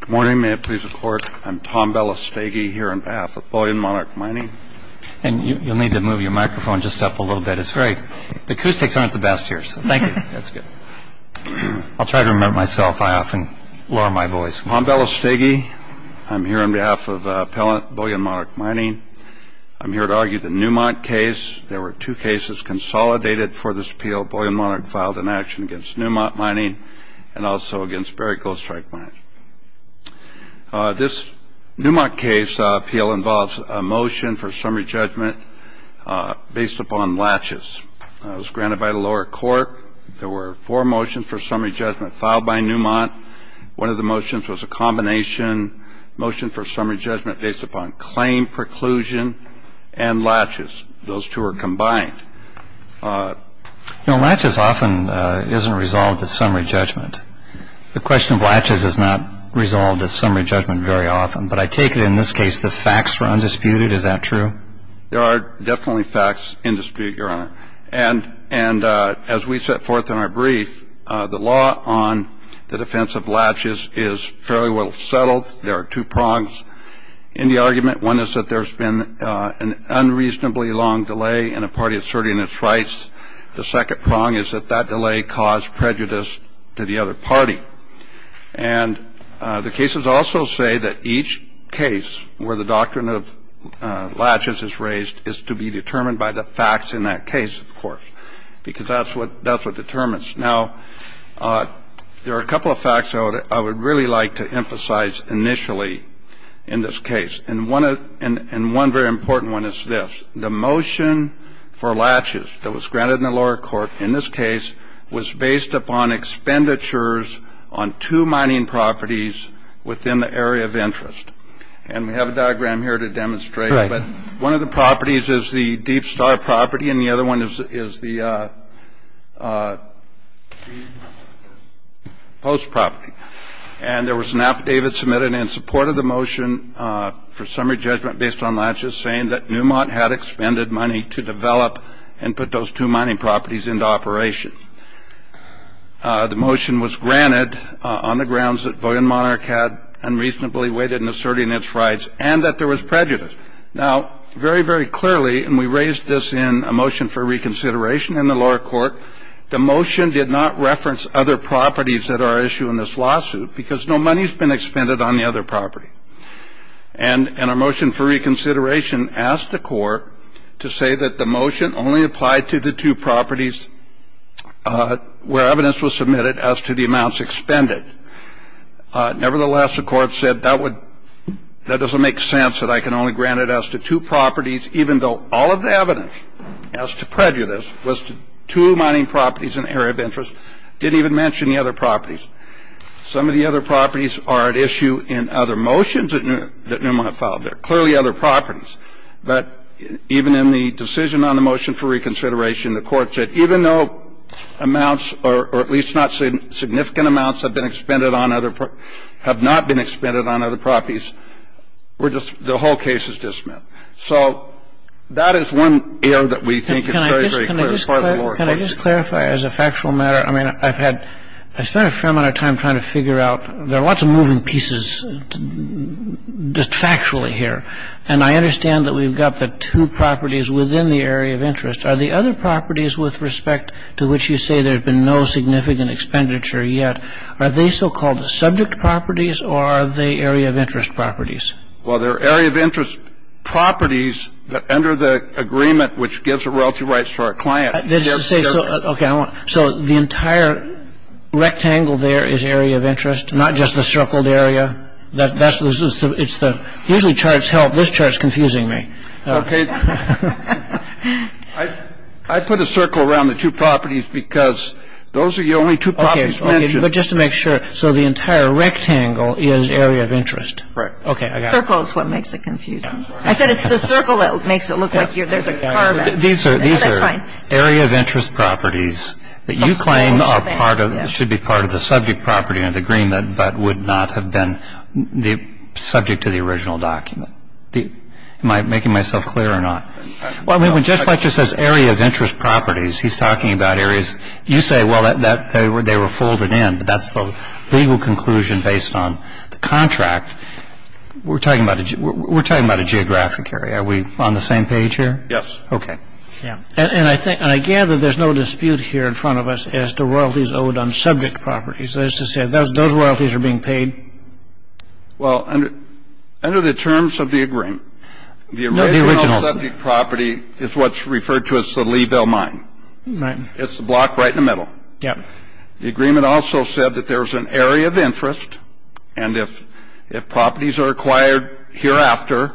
Good morning. May it please the Court, I'm Tom Belasteguy here on behalf of Bullion Monarch Mining. And you'll need to move your microphone just up a little bit. It's great. The acoustics aren't the best here, so thank you. That's good. I'll try to remember myself. I often lower my voice. Tom Belasteguy, I'm here on behalf of appellant Bullion Monarch Mining. I'm here to argue the Newmont case. There were two cases consolidated for this appeal. Appellant Bullion Monarch filed an action against Newmont Mining and also against Barrick Gold Strike Mining. This Newmont case appeal involves a motion for summary judgment based upon latches. It was granted by the lower court. There were four motions for summary judgment filed by Newmont. One of the motions was a combination motion for summary judgment based upon claim, preclusion, and latches. So those two motions are different, and those two are combined. Latches often isn't resolved at summary judgment. The question of latches is not resolved at summary judgment very often. But I take it in this case the facts were undisputed. Is that true? There are definitely facts undisputed, Your Honor. And as we set forth in our brief, the law on the defense of latches is fairly well settled. There are two prongs in the argument. One is that there's been an unreasonably long delay in a party asserting its rights. The second prong is that that delay caused prejudice to the other party. And the cases also say that each case where the doctrine of latches is raised is to be determined by the facts in that case, of course, because that's what determines. Now, there are a couple of facts I would really like to emphasize initially in this case. And one very important one is this. The motion for latches that was granted in the lower court in this case was based upon expenditures on two mining properties within the area of interest. And we have a diagram here to demonstrate. But one of the properties is the Deep Star property, and the other one is the Post property. And there was an affidavit submitted in support of the motion for summary judgment based on latches, saying that Newmont had expended money to develop and put those two mining properties into operation. The motion was granted on the grounds that Bowdoin Monarch had unreasonably waited in asserting its rights and that there was prejudice. Now, very, very clearly, and we raised this in a motion for reconsideration in the lower court, the motion did not reference other properties that are at issue in this lawsuit because no money has been expended on the other property. And in our motion for reconsideration, asked the court to say that the motion only applied to the two properties where evidence was submitted as to the amounts expended. Nevertheless, the court said that would that doesn't make sense that I can only grant it as to two properties, even though all of the evidence as to prejudice was to two mining properties in the area of interest. Didn't even mention the other properties. Some of the other properties are at issue in other motions that Newmont filed. There are clearly other properties. But even in the decision on the motion for reconsideration, the court said even though amounts or at least not significant amounts have been expended on other properties, have not been expended on other properties, the whole case is dismissed. So that is one area that we think is very, very clear. Can I just clarify as a factual matter? I mean, I've spent a fair amount of time trying to figure out. There are lots of moving pieces just factually here. And I understand that we've got the two properties within the area of interest. Are the other properties with respect to which you say there's been no significant expenditure yet, are they so-called subject properties or are they area of interest properties? Well, they're area of interest properties under the agreement which gives the royalty rights to our client. So the entire rectangle there is area of interest, not just the circled area? Usually charts help. This chart is confusing me. I put a circle around the two properties because those are the only two properties mentioned. But just to make sure. So the entire rectangle is area of interest? Right. Circle is what makes it confusing. I said it's the circle that makes it look like there's a carve-out. These are area of interest properties that you claim should be part of the subject property under the agreement but would not have been subject to the original document. Am I making myself clear or not? Well, when Judge Fletcher says area of interest properties, he's talking about areas you say, well, they were folded in, but that's the legal conclusion based on the contract. We're talking about a geographic area. Are we on the same page here? Yes. Okay. And I gather there's no dispute here in front of us as to royalties owed on subject properties. That is to say, those royalties are being paid? Well, under the terms of the agreement, the original subject property is what's referred to as the Leeville mine. Right. It's the block right in the middle. Yeah. The agreement also said that there's an area of interest, and if properties are acquired hereafter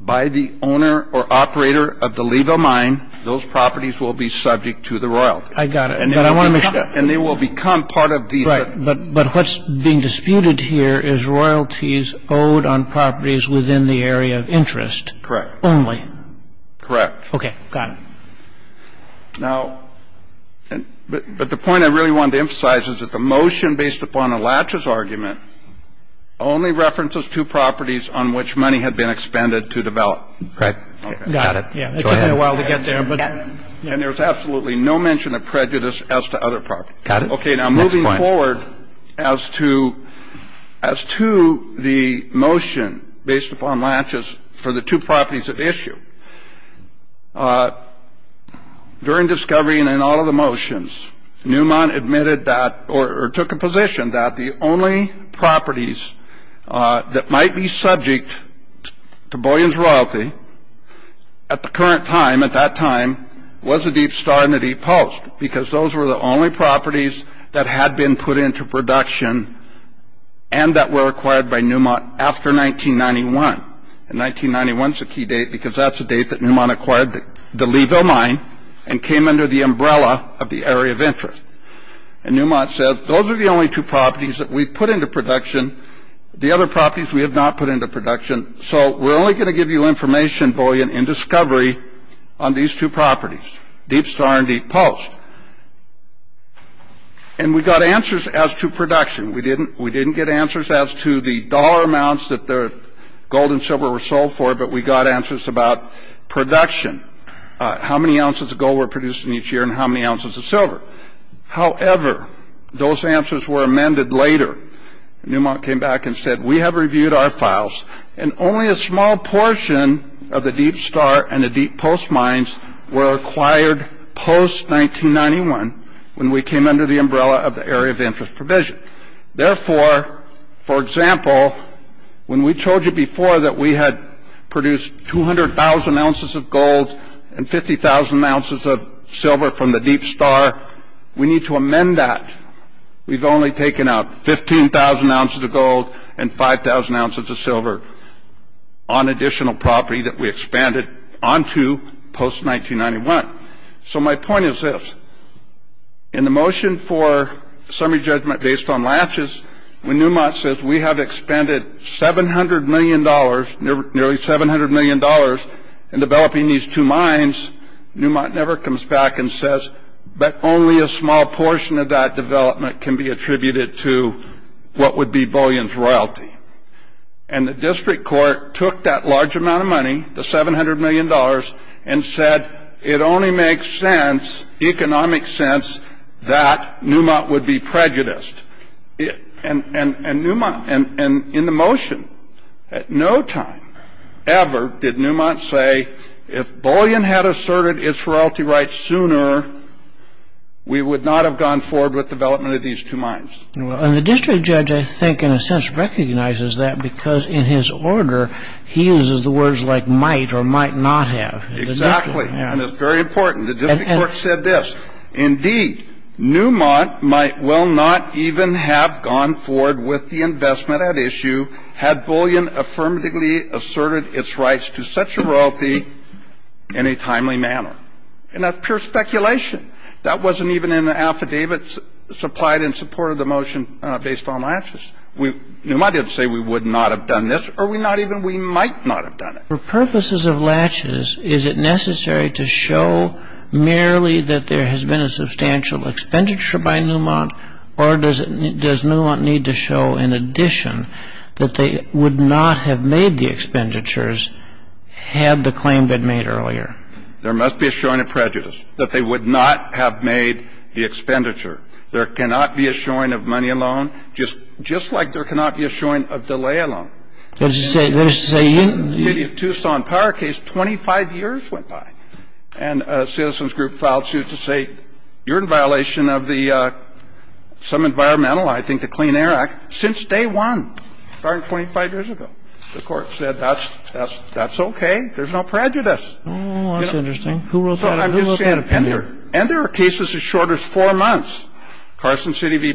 by the owner or operator of the Leeville mine, those properties will be subject to the royalty. I got it. But I want to make sure. And they will become part of these. Right. But what's being disputed here is royalties owed on properties within the area of interest. Correct. Only. Correct. Okay. Got it. Now, but the point I really wanted to emphasize is that the motion based upon a latches argument only references two properties on which money had been expended to develop. Right. Got it. Yeah. It took me a while to get there. And there's absolutely no mention of prejudice as to other properties. Got it. Okay. Now, moving forward as to the motion based upon latches for the two properties at issue, during discovery and in all of the motions, Neumann admitted that or took a position that the only properties that might be subject to Boyan's royalty at the current time, at was a deep star in the deep post because those were the only properties that had been put into production and that were acquired by Neumann after 1991. And 1991 is a key date because that's the date that Neumann acquired the Leeville mine and came under the umbrella of the area of interest. And Neumann said, those are the only two properties that we've put into production. The other properties we have not put into production. So we're only going to give you information, Boyan, in discovery on these two properties, deep star and deep post. And we got answers as to production. We didn't get answers as to the dollar amounts that the gold and silver were sold for, but we got answers about production, how many ounces of gold were produced in each year and how many ounces of silver. However, those answers were amended later. Neumann came back and said, we have reviewed our files and only a small portion of the deep star and the deep post mines were acquired post-1991 when we came under the umbrella of the area of interest provision. Therefore, for example, when we told you before that we had produced 200,000 ounces of gold and 50,000 ounces of silver from the deep star, we need to amend that. We've only taken out 15,000 ounces of gold and 5,000 ounces of silver on additional property that we expanded onto post-1991. So my point is this. In the motion for summary judgment based on latches, when Neumann says we have expanded $700 million, nearly $700 million, in developing these two mines, Neumann never comes back and says, but only a small portion of that development can be attributed to what would be Bullion's royalty. And the district court took that large amount of money, the $700 million, and said it only makes sense, economic sense, that Neumann would be prejudiced. And in the motion, at no time ever did Neumann say, if Bullion had asserted its royalty rights sooner, we would not have gone forward with development of these two mines. And the district judge, I think, in a sense recognizes that because in his order, he uses the words like might or might not have. Exactly. And it's very important. The district court said this. Indeed, Neumann might well not even have gone forward with the investment at issue had Bullion affirmatively asserted its rights to such a royalty in a timely manner. And that's pure speculation. That wasn't even in the affidavit supplied in support of the motion based on latches. Neumann didn't say we would not have done this or we might not have done it. For purposes of latches, is it necessary to show merely that there has been a substantial expenditure by Neumann, or does Neumann need to show in addition that they would not have made the expenditures had the claim been made earlier? There must be a showing of prejudice that they would not have made the expenditure. There cannot be a showing of money alone, just like there cannot be a showing of delay alone. In the case of the Tucson Power case, 25 years went by. And a Citizens Group filed suit to say you're in violation of the some environmental, I think the Clean Air Act, since day one, starting 25 years ago. The court said that's okay. There's no prejudice. Oh, that's interesting. Who wrote that? Who wrote that opinion? And there are cases as short as four months. I'm trying to figure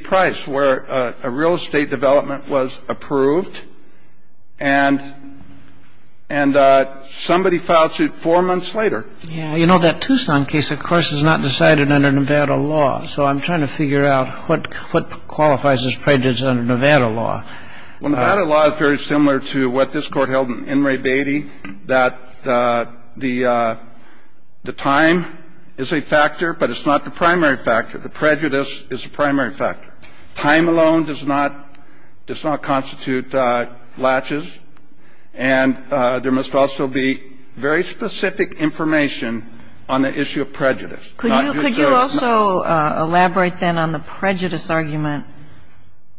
out what qualifies as prejudice under Nevada law. Well, Nevada law is very similar to what this Court held in Enri Beatty, that the time is a factor, but it's not the primary factor. The time alone does not constitute laches, and there must also be very specific information on the issue of prejudice. Could you also elaborate then on the prejudice argument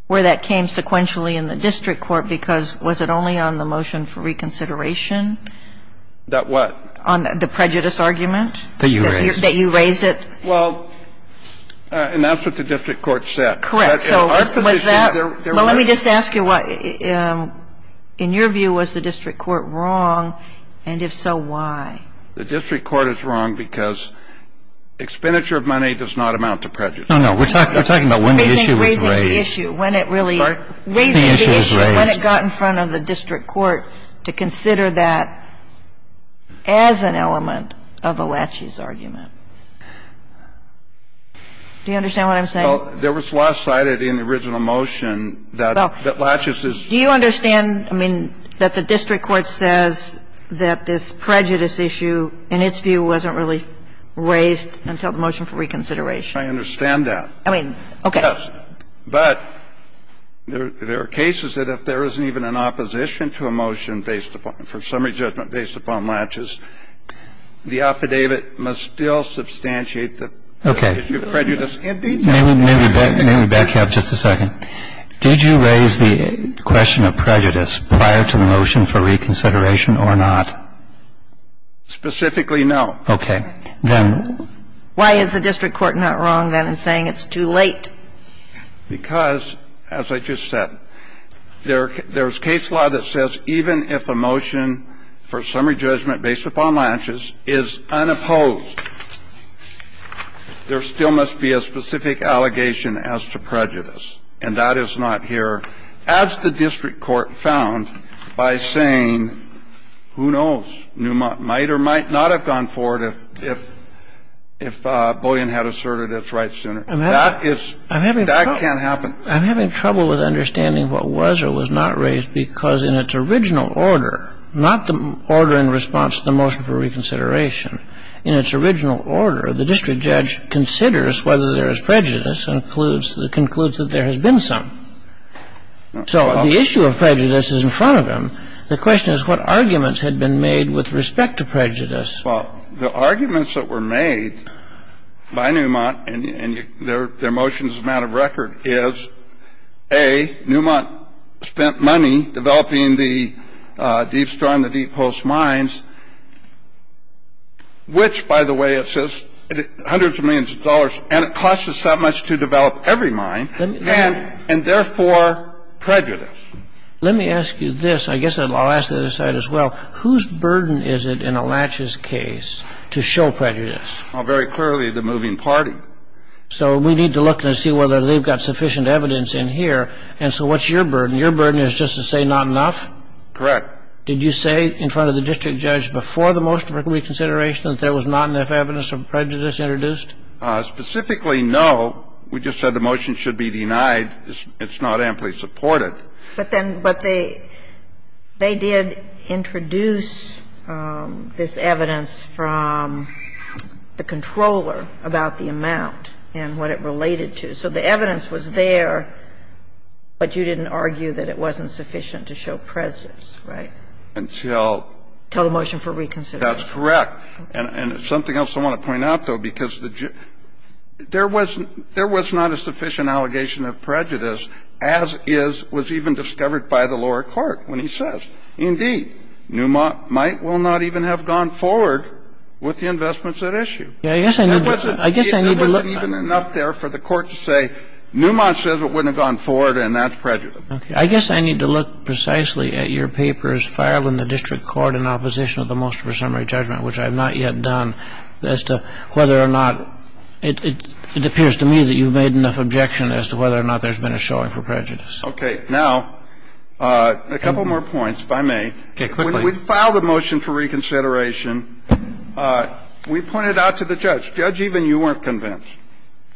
where that came sequentially in the district court because was it only on the motion for reconsideration? That what? On the prejudice argument? That you raised it. That you raised it. Well, and that's what the district court said. Correct. So was that? Well, let me just ask you what, in your view, was the district court wrong, and if so, why? The district court is wrong because expenditure of money does not amount to prejudice. No, no. We're talking about when the issue was raised. Raising the issue. When it really raised the issue. When it got in front of the district court to consider that as an element of a laches argument. Do you understand what I'm saying? Well, there was less cited in the original motion that laches is. Do you understand, I mean, that the district court says that this prejudice issue, in its view, wasn't really raised until the motion for reconsideration? I understand that. I mean, okay. Yes. But there are cases that if there isn't even an opposition to a motion based upon laches, the affidavit must still substantiate the prejudice. Okay. May we back you up just a second? Did you raise the question of prejudice prior to the motion for reconsideration or not? Specifically, no. Okay. Then why is the district court not wrong, then, in saying it's too late? Because, as I just said, there's case law that says even if a motion for summary judgment based upon laches is unopposed, there still must be a specific allegation as to prejudice. And that is not here, as the district court found by saying, who knows, might or might not have gone forward if Bullion had asserted its rights sooner. That can't happen. I'm having trouble with understanding what was or was not raised because in its original order, not the order in response to the motion for reconsideration, in its original order, the district judge considers whether there is prejudice and concludes that there has been some. So the issue of prejudice is in front of him. The question is what arguments had been made with respect to prejudice. Well, the arguments that were made by Newmont, and their motion is a matter of record, is, A, Newmont spent money developing the Deep Storm, the Deep Pulse mines, which, by the way, it says hundreds of millions of dollars, and it costs us that much to develop every mine, and therefore prejudice. Let me ask you this. I guess I'll ask the other side as well. Whose burden is it in a Latches case to show prejudice? Oh, very clearly the moving party. So we need to look and see whether they've got sufficient evidence in here. And so what's your burden? Your burden is just to say not enough? Correct. Did you say in front of the district judge before the motion for reconsideration that there was not enough evidence of prejudice introduced? Specifically, no. We just said the motion should be denied. It's not amply supported. But then they did introduce this evidence from the controller about the amount and what it related to. So the evidence was there, but you didn't argue that it wasn't sufficient to show prejudice, right? Until the motion for reconsideration. That's correct. And something else I want to point out, though, because there was not a sufficient allegation of prejudice as is was even discovered by the lower court when he says, indeed, Newmont might well not even have gone forward with the investments at issue. There wasn't even enough there for the court to say, Newmont says it wouldn't have gone forward, and that's prejudice. Okay. I guess I need to look precisely at your papers filed in the district court in opposition of the motion for summary judgment, which I have not yet done, as to whether or not it appears to me that you've made enough objection as to whether or not there's been a showing for prejudice. Okay. Now, a couple more points, if I may. Okay, quickly. When we filed the motion for reconsideration, we pointed out to the judge. Judge, even you weren't convinced.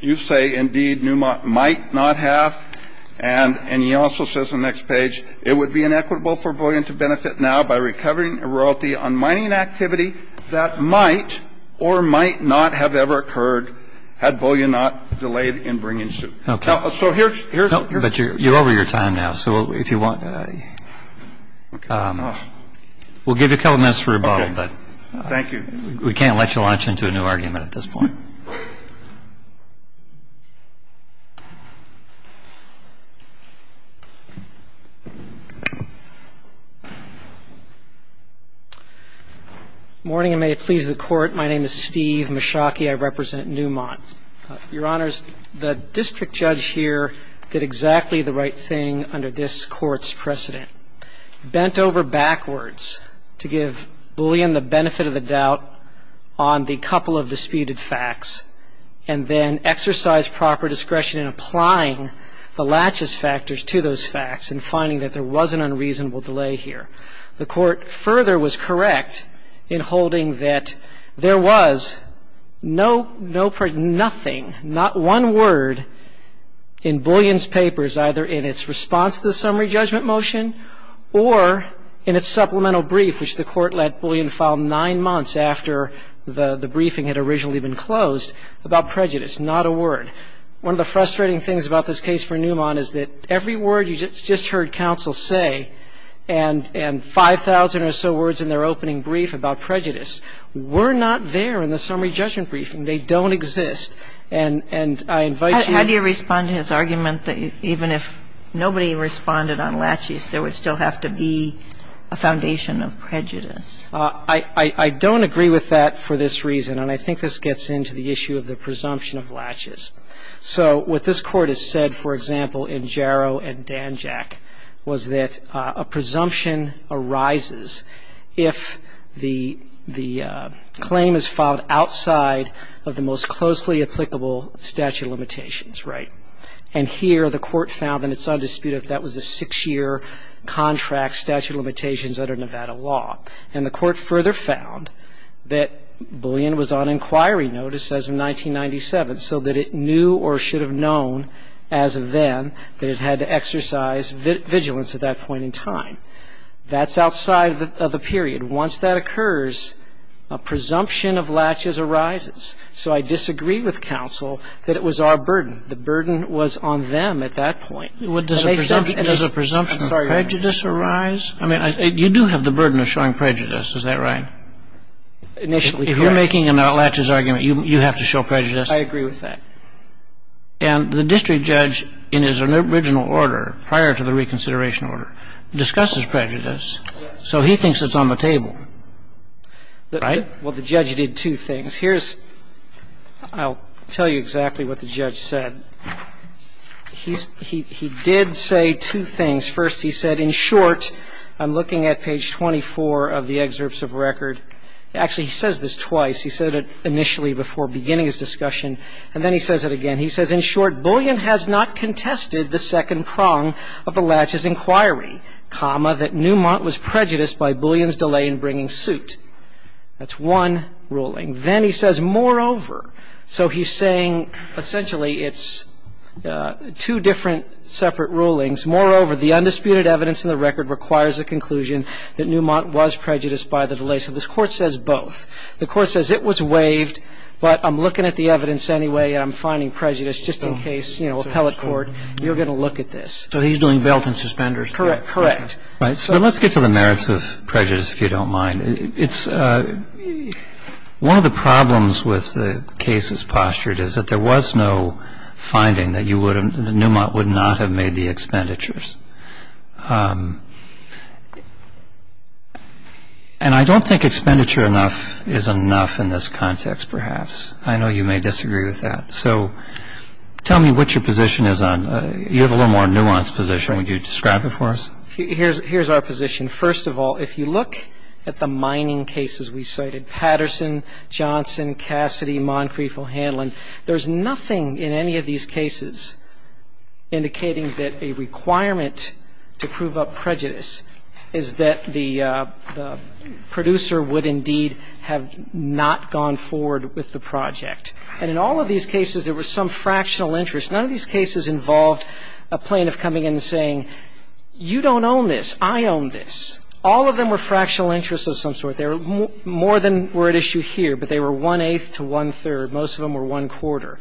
You say, indeed, Newmont might not have, and he also says on the next page, it would be inequitable for Bullion to benefit now by recovering a royalty on mining activity that might or might not have ever occurred had Bullion not delayed in bringing suit. Okay. So here's what you're saying. No, but you're over your time now. So if you want to, we'll give you a couple minutes for rebuttal. Okay. Thank you. We can't let you launch into a new argument at this point. Morning, and may it please the Court. My name is Steve Meschaki. I represent Newmont. Your Honors, the district judge here did exactly the right thing under this Court's precedent. Bent over backwards to give Bullion the benefit of the doubt on the couple of disputed facts and then exercise proper discretion in applying the laches factors to those facts and finding that there was an unreasonable delay here. The Court further was correct in holding that there was no, no, nothing, not one word in Bullion's papers, either in its response to the summary judgment motion or in its supplemental brief, which the Court let Bullion file nine months after the briefing had originally been closed, about prejudice, not a word. One of the frustrating things about this case for Newmont is that every word you just heard counsel say and 5,000 or so words in their opening brief about prejudice were not there in the summary judgment briefing. They don't exist. And I invite you to ---- How do you respond to his argument that even if nobody responded on laches, there would still have to be a foundation of prejudice? I don't agree with that for this reason. And I think this gets into the issue of the presumption of laches. So what this Court has said, for example, in Jarrow and Danjack, was that a presumption arises if the claim is filed outside of the most closely applicable statute of limitations, right? And here the Court found that it's undisputed that that was a six-year contract statute of limitations under Nevada law. And the Court further found that Bullion was on inquiry notice as of 1997, so that it knew or should have known as of then that it had to exercise vigilance at that point in time. That's outside of the period. Once that occurs, a presumption of laches arises. So I disagree with counsel that it was our burden. The burden was on them at that point. Does a presumption of prejudice arise? Yes. I mean, you do have the burden of showing prejudice. Is that right? Initially, correct. If you're making an outlatches argument, you have to show prejudice. I agree with that. And the district judge in his original order, prior to the reconsideration order, discusses prejudice. Yes. So he thinks it's on the table. Right? Well, the judge did two things. Here's ‑‑ I'll tell you exactly what the judge said. He did say two things. First, he said, in short, I'm looking at page 24 of the excerpts of record. Actually, he says this twice. He said it initially before beginning his discussion. And then he says it again. He says, in short, Bullion has not contested the second prong of the laches inquiry, comma, that Newmont was prejudiced by Bullion's delay in bringing suit. That's one ruling. Then he says, moreover. So he's saying, essentially, it's two different separate rulings. Moreover, the undisputed evidence in the record requires a conclusion that Newmont was prejudiced by the delay. So this court says both. The court says it was waived, but I'm looking at the evidence anyway, and I'm finding prejudice, just in case, you know, appellate court, you're going to look at this. So he's doing bail and suspenders. Correct. Correct. Right. So let's get to the merits of prejudice, if you don't mind. It's ‑‑ one of the problems with the cases postured is that there was no finding that you would have ‑‑ that Newmont would not have made the expenditures. And I don't think expenditure enough is enough in this context, perhaps. I know you may disagree with that. So tell me what your position is on ‑‑ you have a little more nuanced position. Would you describe it for us? Here's our position. First of all, if you look at the mining cases we cited, Patterson, Johnson, Cassidy, Moncrief, O'Hanlon, there's nothing in any of these cases indicating that a requirement to prove up prejudice is that the producer would indeed have not gone forward with the project. And in all of these cases, there was some fractional interest. None of these cases involved a plaintiff coming in and saying, you don't own this, I own this. All of them were fractional interests of some sort. There were more than were at issue here, but they were one‑eighth to one‑third. Most of them were one‑quarter.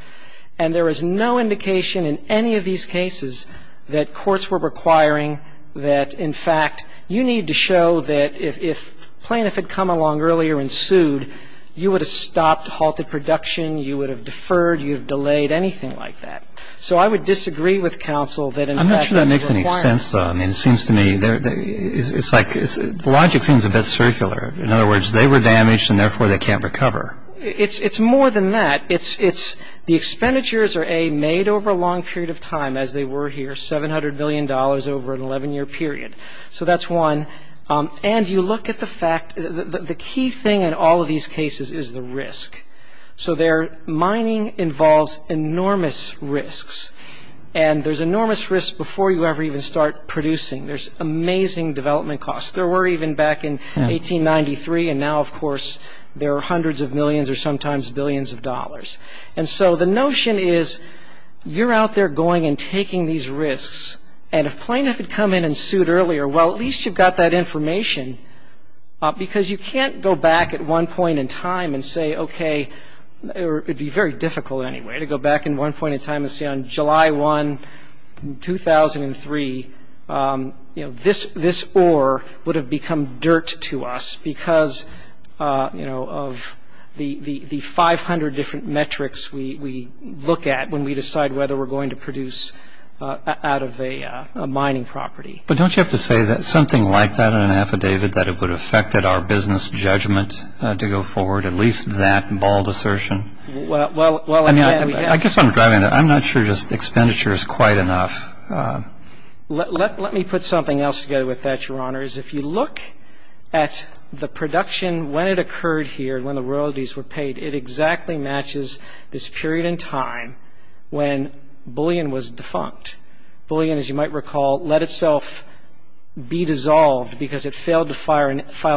And there is no indication in any of these cases that courts were requiring that, in fact, you need to show that if plaintiff had come along earlier and sued, you would have stopped, halted production, you would have deferred, you would have delayed, anything like that. So I would disagree with counsel that, in fact, that's a requirement. I'm not sure that makes any sense, though. I mean, it seems to me, it's like, the logic seems a bit circular. In other words, they were damaged and, therefore, they can't recover. It's more than that. It's the expenditures are, A, made over a long period of time, as they were here, $700 million over an 11‑year period. So that's one. And you look at the fact, the key thing in all of these cases is the risk. So there, mining involves enormous risks. And there's enormous risks before you ever even start producing. There's amazing development costs. There were even back in 1893, and now, of course, there are hundreds of millions or sometimes billions of dollars. And so the notion is, you're out there going and taking these risks, and if plaintiff had come in and sued earlier, well, at least you've got that information, because you can't go back at one point in time and say, okay, or it would be very on July 1, 2003, you know, this ore would have become dirt to us, because, you know, of the 500 different metrics we look at when we decide whether we're going to produce out of a mining property. But don't you have to say something like that in an affidavit, that it would affect our business judgment to go forward, at least that bald assertion? Well, I mean, I guess what I'm driving at, I'm not sure this expenditure is quite enough. Let me put something else together with that, Your Honors. If you look at the production when it occurred here, when the royalties were paid, it exactly matches this period in time when bullion was defunct. Bullion, as you might recall, let itself be dissolved because it failed to file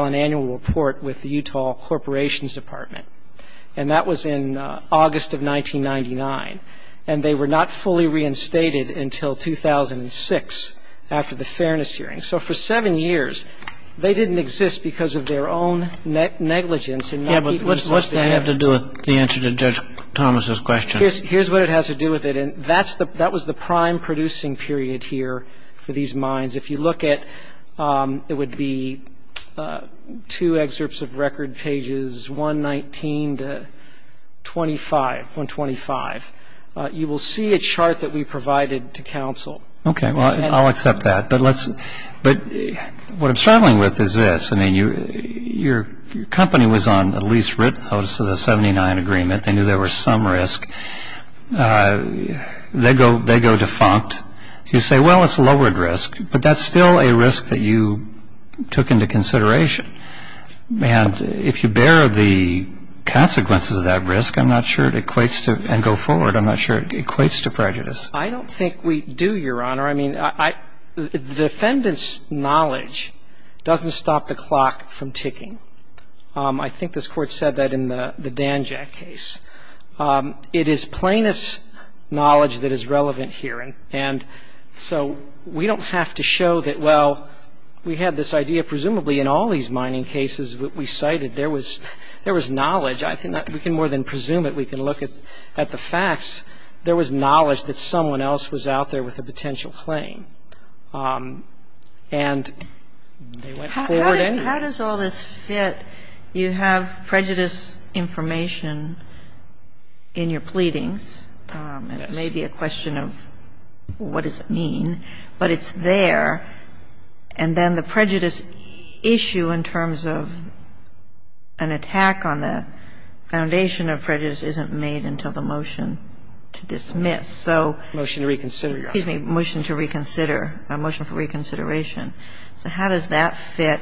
an annual report with the Utah Corporations Department. And that was in August of 1999. And they were not fully reinstated until 2006, after the Fairness Hearing. So for seven years, they didn't exist because of their own negligence. Yeah, but what's that have to do with the answer to Judge Thomas' question? Here's what it has to do with it. And that was the prime producing period here for these mines. If you look at, it would be two excerpts of record, pages 119 to 125. You will see a chart that we provided to counsel. Okay, well, I'll accept that. But what I'm struggling with is this. I mean, your company was on at least written notice of the 79 agreement. They knew there was some risk. They go defunct. You say, well, it's lowered risk. But that's still a risk that you took into consideration. And if you bear the consequences of that risk, I'm not sure it equates to go forward. I'm not sure it equates to prejudice. I don't think we do, Your Honor. I mean, the defendant's knowledge doesn't stop the clock from ticking. I think this Court said that in the Danjack case. It is plaintiff's knowledge that is relevant here. And so we don't have to show that, well, we had this idea presumably in all these mining cases that we cited. There was knowledge. I think we can more than presume it. We can look at the facts. There was knowledge that someone else was out there with a potential claim. And they went forward anyway. How does all this fit? You have prejudice information in your pleadings. It may be a question of what does it mean. But it's there. And then the prejudice issue in terms of an attack on the foundation of prejudice isn't made until the motion to dismiss. So the motion to reconsider, a motion for reconsideration. So how does that fit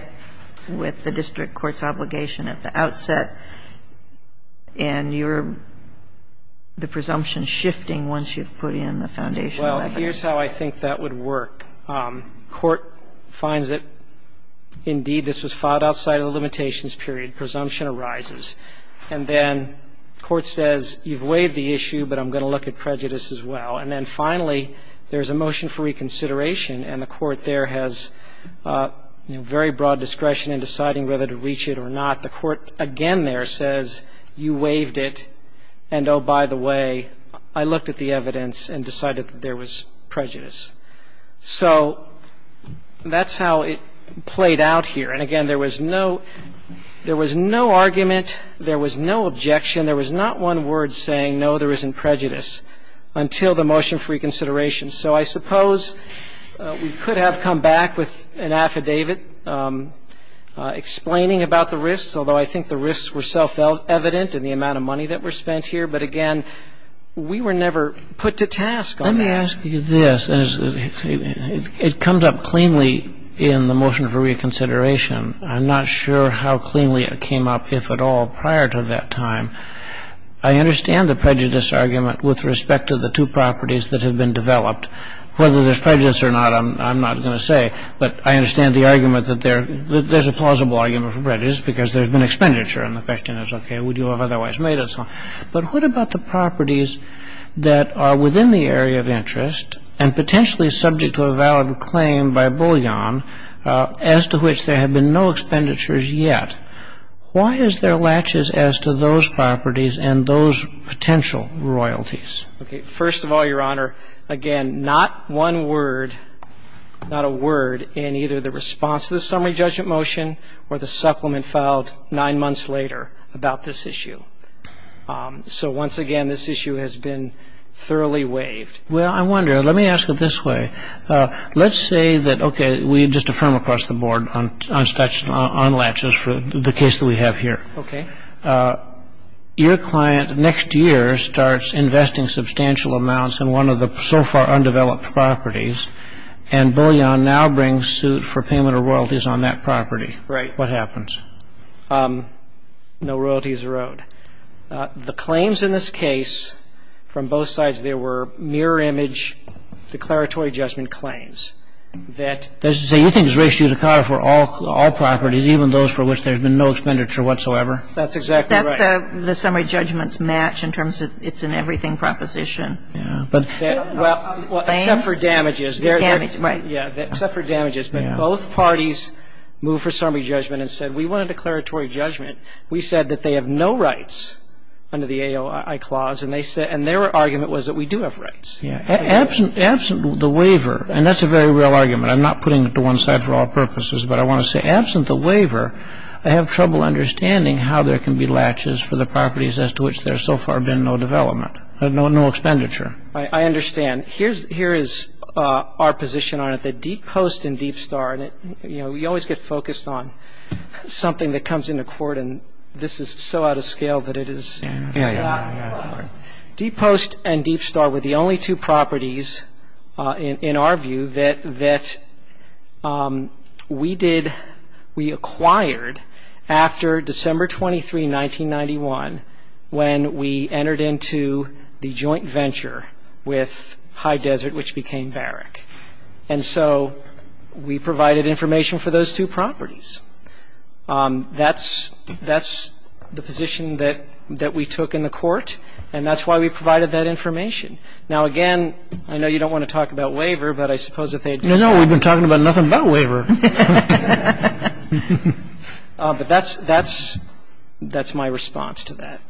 with the district court's obligation at the outset? And you're the presumption shifting once you've put in the foundation. Well, here's how I think that would work. Court finds that, indeed, this was filed outside of the limitations period. Presumption arises. And then court says, you've waived the issue, but I'm going to look at prejudice as well. And then finally, there's a motion for reconsideration, and the court there has, you know, very broad discretion in deciding whether to reach it or not. The court again there says, you waived it, and, oh, by the way, I looked at the evidence and decided that there was prejudice. So that's how it played out here. And, again, there was no argument. There was no objection. There was not one word saying, no, there isn't prejudice, until the motion for reconsideration. And so I suppose we could have come back with an affidavit explaining about the risks, although I think the risks were self-evident in the amount of money that was spent here. But, again, we were never put to task on that. Let me ask you this. It comes up cleanly in the motion for reconsideration. I'm not sure how cleanly it came up, if at all, prior to that time. I understand the prejudice argument with respect to the two properties that have been developed. Whether there's prejudice or not, I'm not going to say. But I understand the argument that there's a plausible argument for prejudice, because there's been expenditure. And the question is, okay, would you have otherwise made it? But what about the properties that are within the area of interest and potentially subject to a valid claim by Bullion as to which there have been no expenditures yet? Why is there laches as to those properties and those potential royalties? Okay. First of all, Your Honor, again, not one word, not a word in either the response to the summary judgment motion or the supplement filed nine months later about this issue. So, once again, this issue has been thoroughly waived. Well, I wonder. Let me ask it this way. Let's say that, okay, we just affirm across the board on laches for the case that we have here. Okay. Your client next year starts investing substantial amounts in one of the so far undeveloped properties, and Bullion now brings suit for payment of royalties on that property. Right. What happens? No royalties are owed. Well, let me ask it this way. Let's say that the claims in this case, from both sides, there were mirror image declaratory judgment claims that you think is ratio decada for all properties, even those for which there's been no expenditure whatsoever. That's exactly right. That's the summary judgment's match in terms of it's an everything proposition. Yeah. Well, except for damages. Damage. Right. Yeah. Except for damages. But both parties moved for summary judgment and said, we want a declaratory judgment. We said that they have no rights under the AOI clause, and their argument was that we do have rights. Yeah. Absent the waiver, and that's a very real argument. I'm not putting it to one side for all purposes, but I want to say, absent the waiver, I have trouble understanding how there can be laches for the properties as to which there's so far been no development, no expenditure. I understand. And here is our position on it, that Deep Post and Deep Star, you know, you always get focused on something that comes into court, and this is so out of scale that it is. Yeah. Deep Post and Deep Star were the only two properties, in our view, that we did, we acquired after December 23, 1991, when we entered into the joint venture with High Desert, which became Barrick. And so we provided information for those two properties. That's the position that we took in the court, and that's why we provided that information. Now, again, I know you don't want to talk about waiver, but I suppose if they had been I don't know. We've been talking about nothing but waiver. But that's my response to that.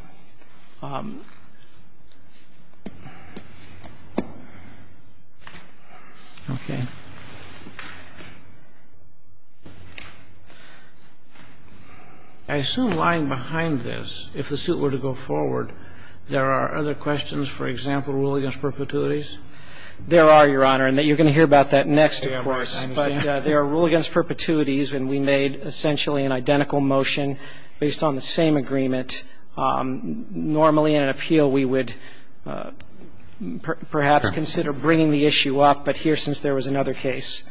Okay. I assume lying behind this, if the suit were to go forward, there are other questions, for example, rule against perpetuities? There are, Your Honor. And you're going to hear about that next, of course. But there are rule against perpetuities, and we made essentially an identical motion based on the same agreement. Normally, in an appeal, we would perhaps consider bringing the issue up. But here, since there was another case,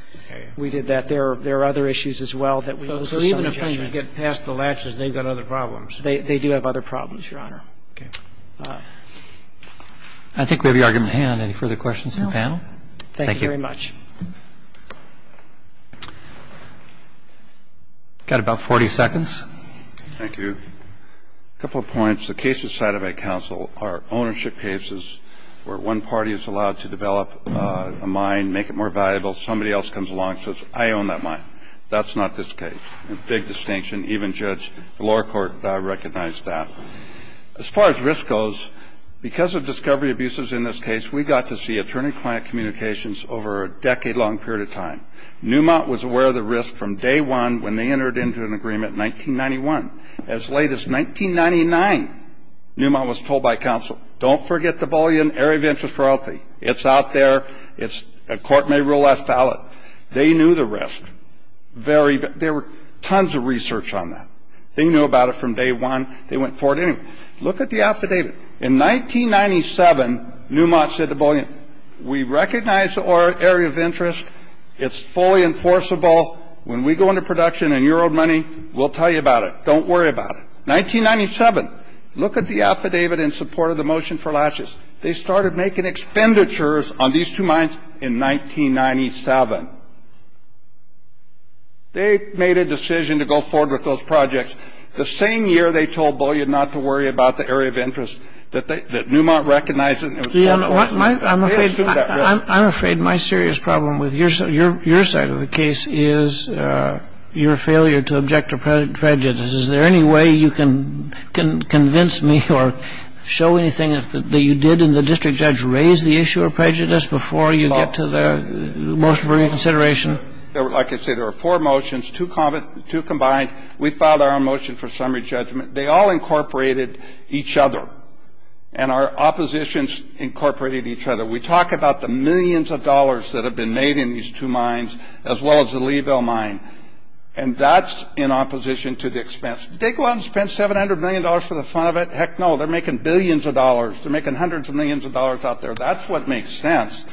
we did that. There are other issues as well. So even if they get past the latches, they've got other problems. They do have other problems, Your Honor. Okay. I think we have the argument at hand. Any further questions from the panel? No. Thank you very much. Thank you. Got about 40 seconds. Thank you. A couple of points. The cases cited by counsel are ownership cases where one party is allowed to develop a mine, make it more valuable. Somebody else comes along and says, I own that mine. That's not this case. Big distinction. Even the lower court recognized that. As far as risk goes, because of discovery abuses in this case, we got to see attorney-client communications over a decade-long period of time. Neumont was aware of the risk from day one when they entered into an agreement in 1991. As late as 1999, Neumont was told by counsel, don't forget the bully in area of interest royalty. It's out there. A court may rule as valid. They knew the risk. There were tons of research on that. They knew about it from day one. They went forward anyway. Look at the affidavit. In 1997, Neumont said to Bullion, we recognize the area of interest. It's fully enforceable. When we go into production and you're owed money, we'll tell you about it. Don't worry about it. 1997, look at the affidavit in support of the motion for laches. They started making expenditures on these two mines in 1997. They made a decision to go forward with those projects. The same year, they told Bullion not to worry about the area of interest, that Neumont recognized it. I'm afraid my serious problem with your side of the case is your failure to object to prejudice. Is there any way you can convince me or show anything that you did in the district judge raise the issue of prejudice before you get to the motion for reconsideration? Like I said, there were four motions, two combined. We filed our own motion for summary judgment. They all incorporated each other, and our oppositions incorporated each other. We talk about the millions of dollars that have been made in these two mines as well as the Leeville mine, and that's in opposition to the expense. Did they go out and spend $700 million for the fun of it? Heck no. They're making billions of dollars. They're making hundreds of millions of dollars out there. That's what makes sense.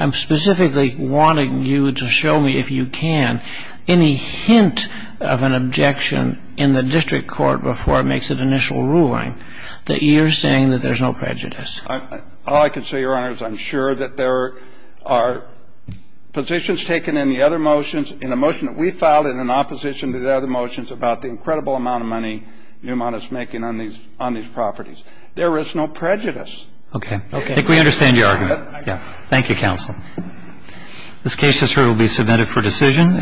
I'm specifically wanting you to show me, if you can, any hint of an objection in the district court before it makes an initial ruling that you're saying that there's no prejudice. All I can say, Your Honor, is I'm sure that there are positions taken in the other motions, in the motion that we filed in opposition to the other motions, about the incredible amount of money Neumont is making on these properties. There is no prejudice. Okay. I think we understand your argument. Thank you, counsel. This case, Mr. Hurt, will be submitted for decision.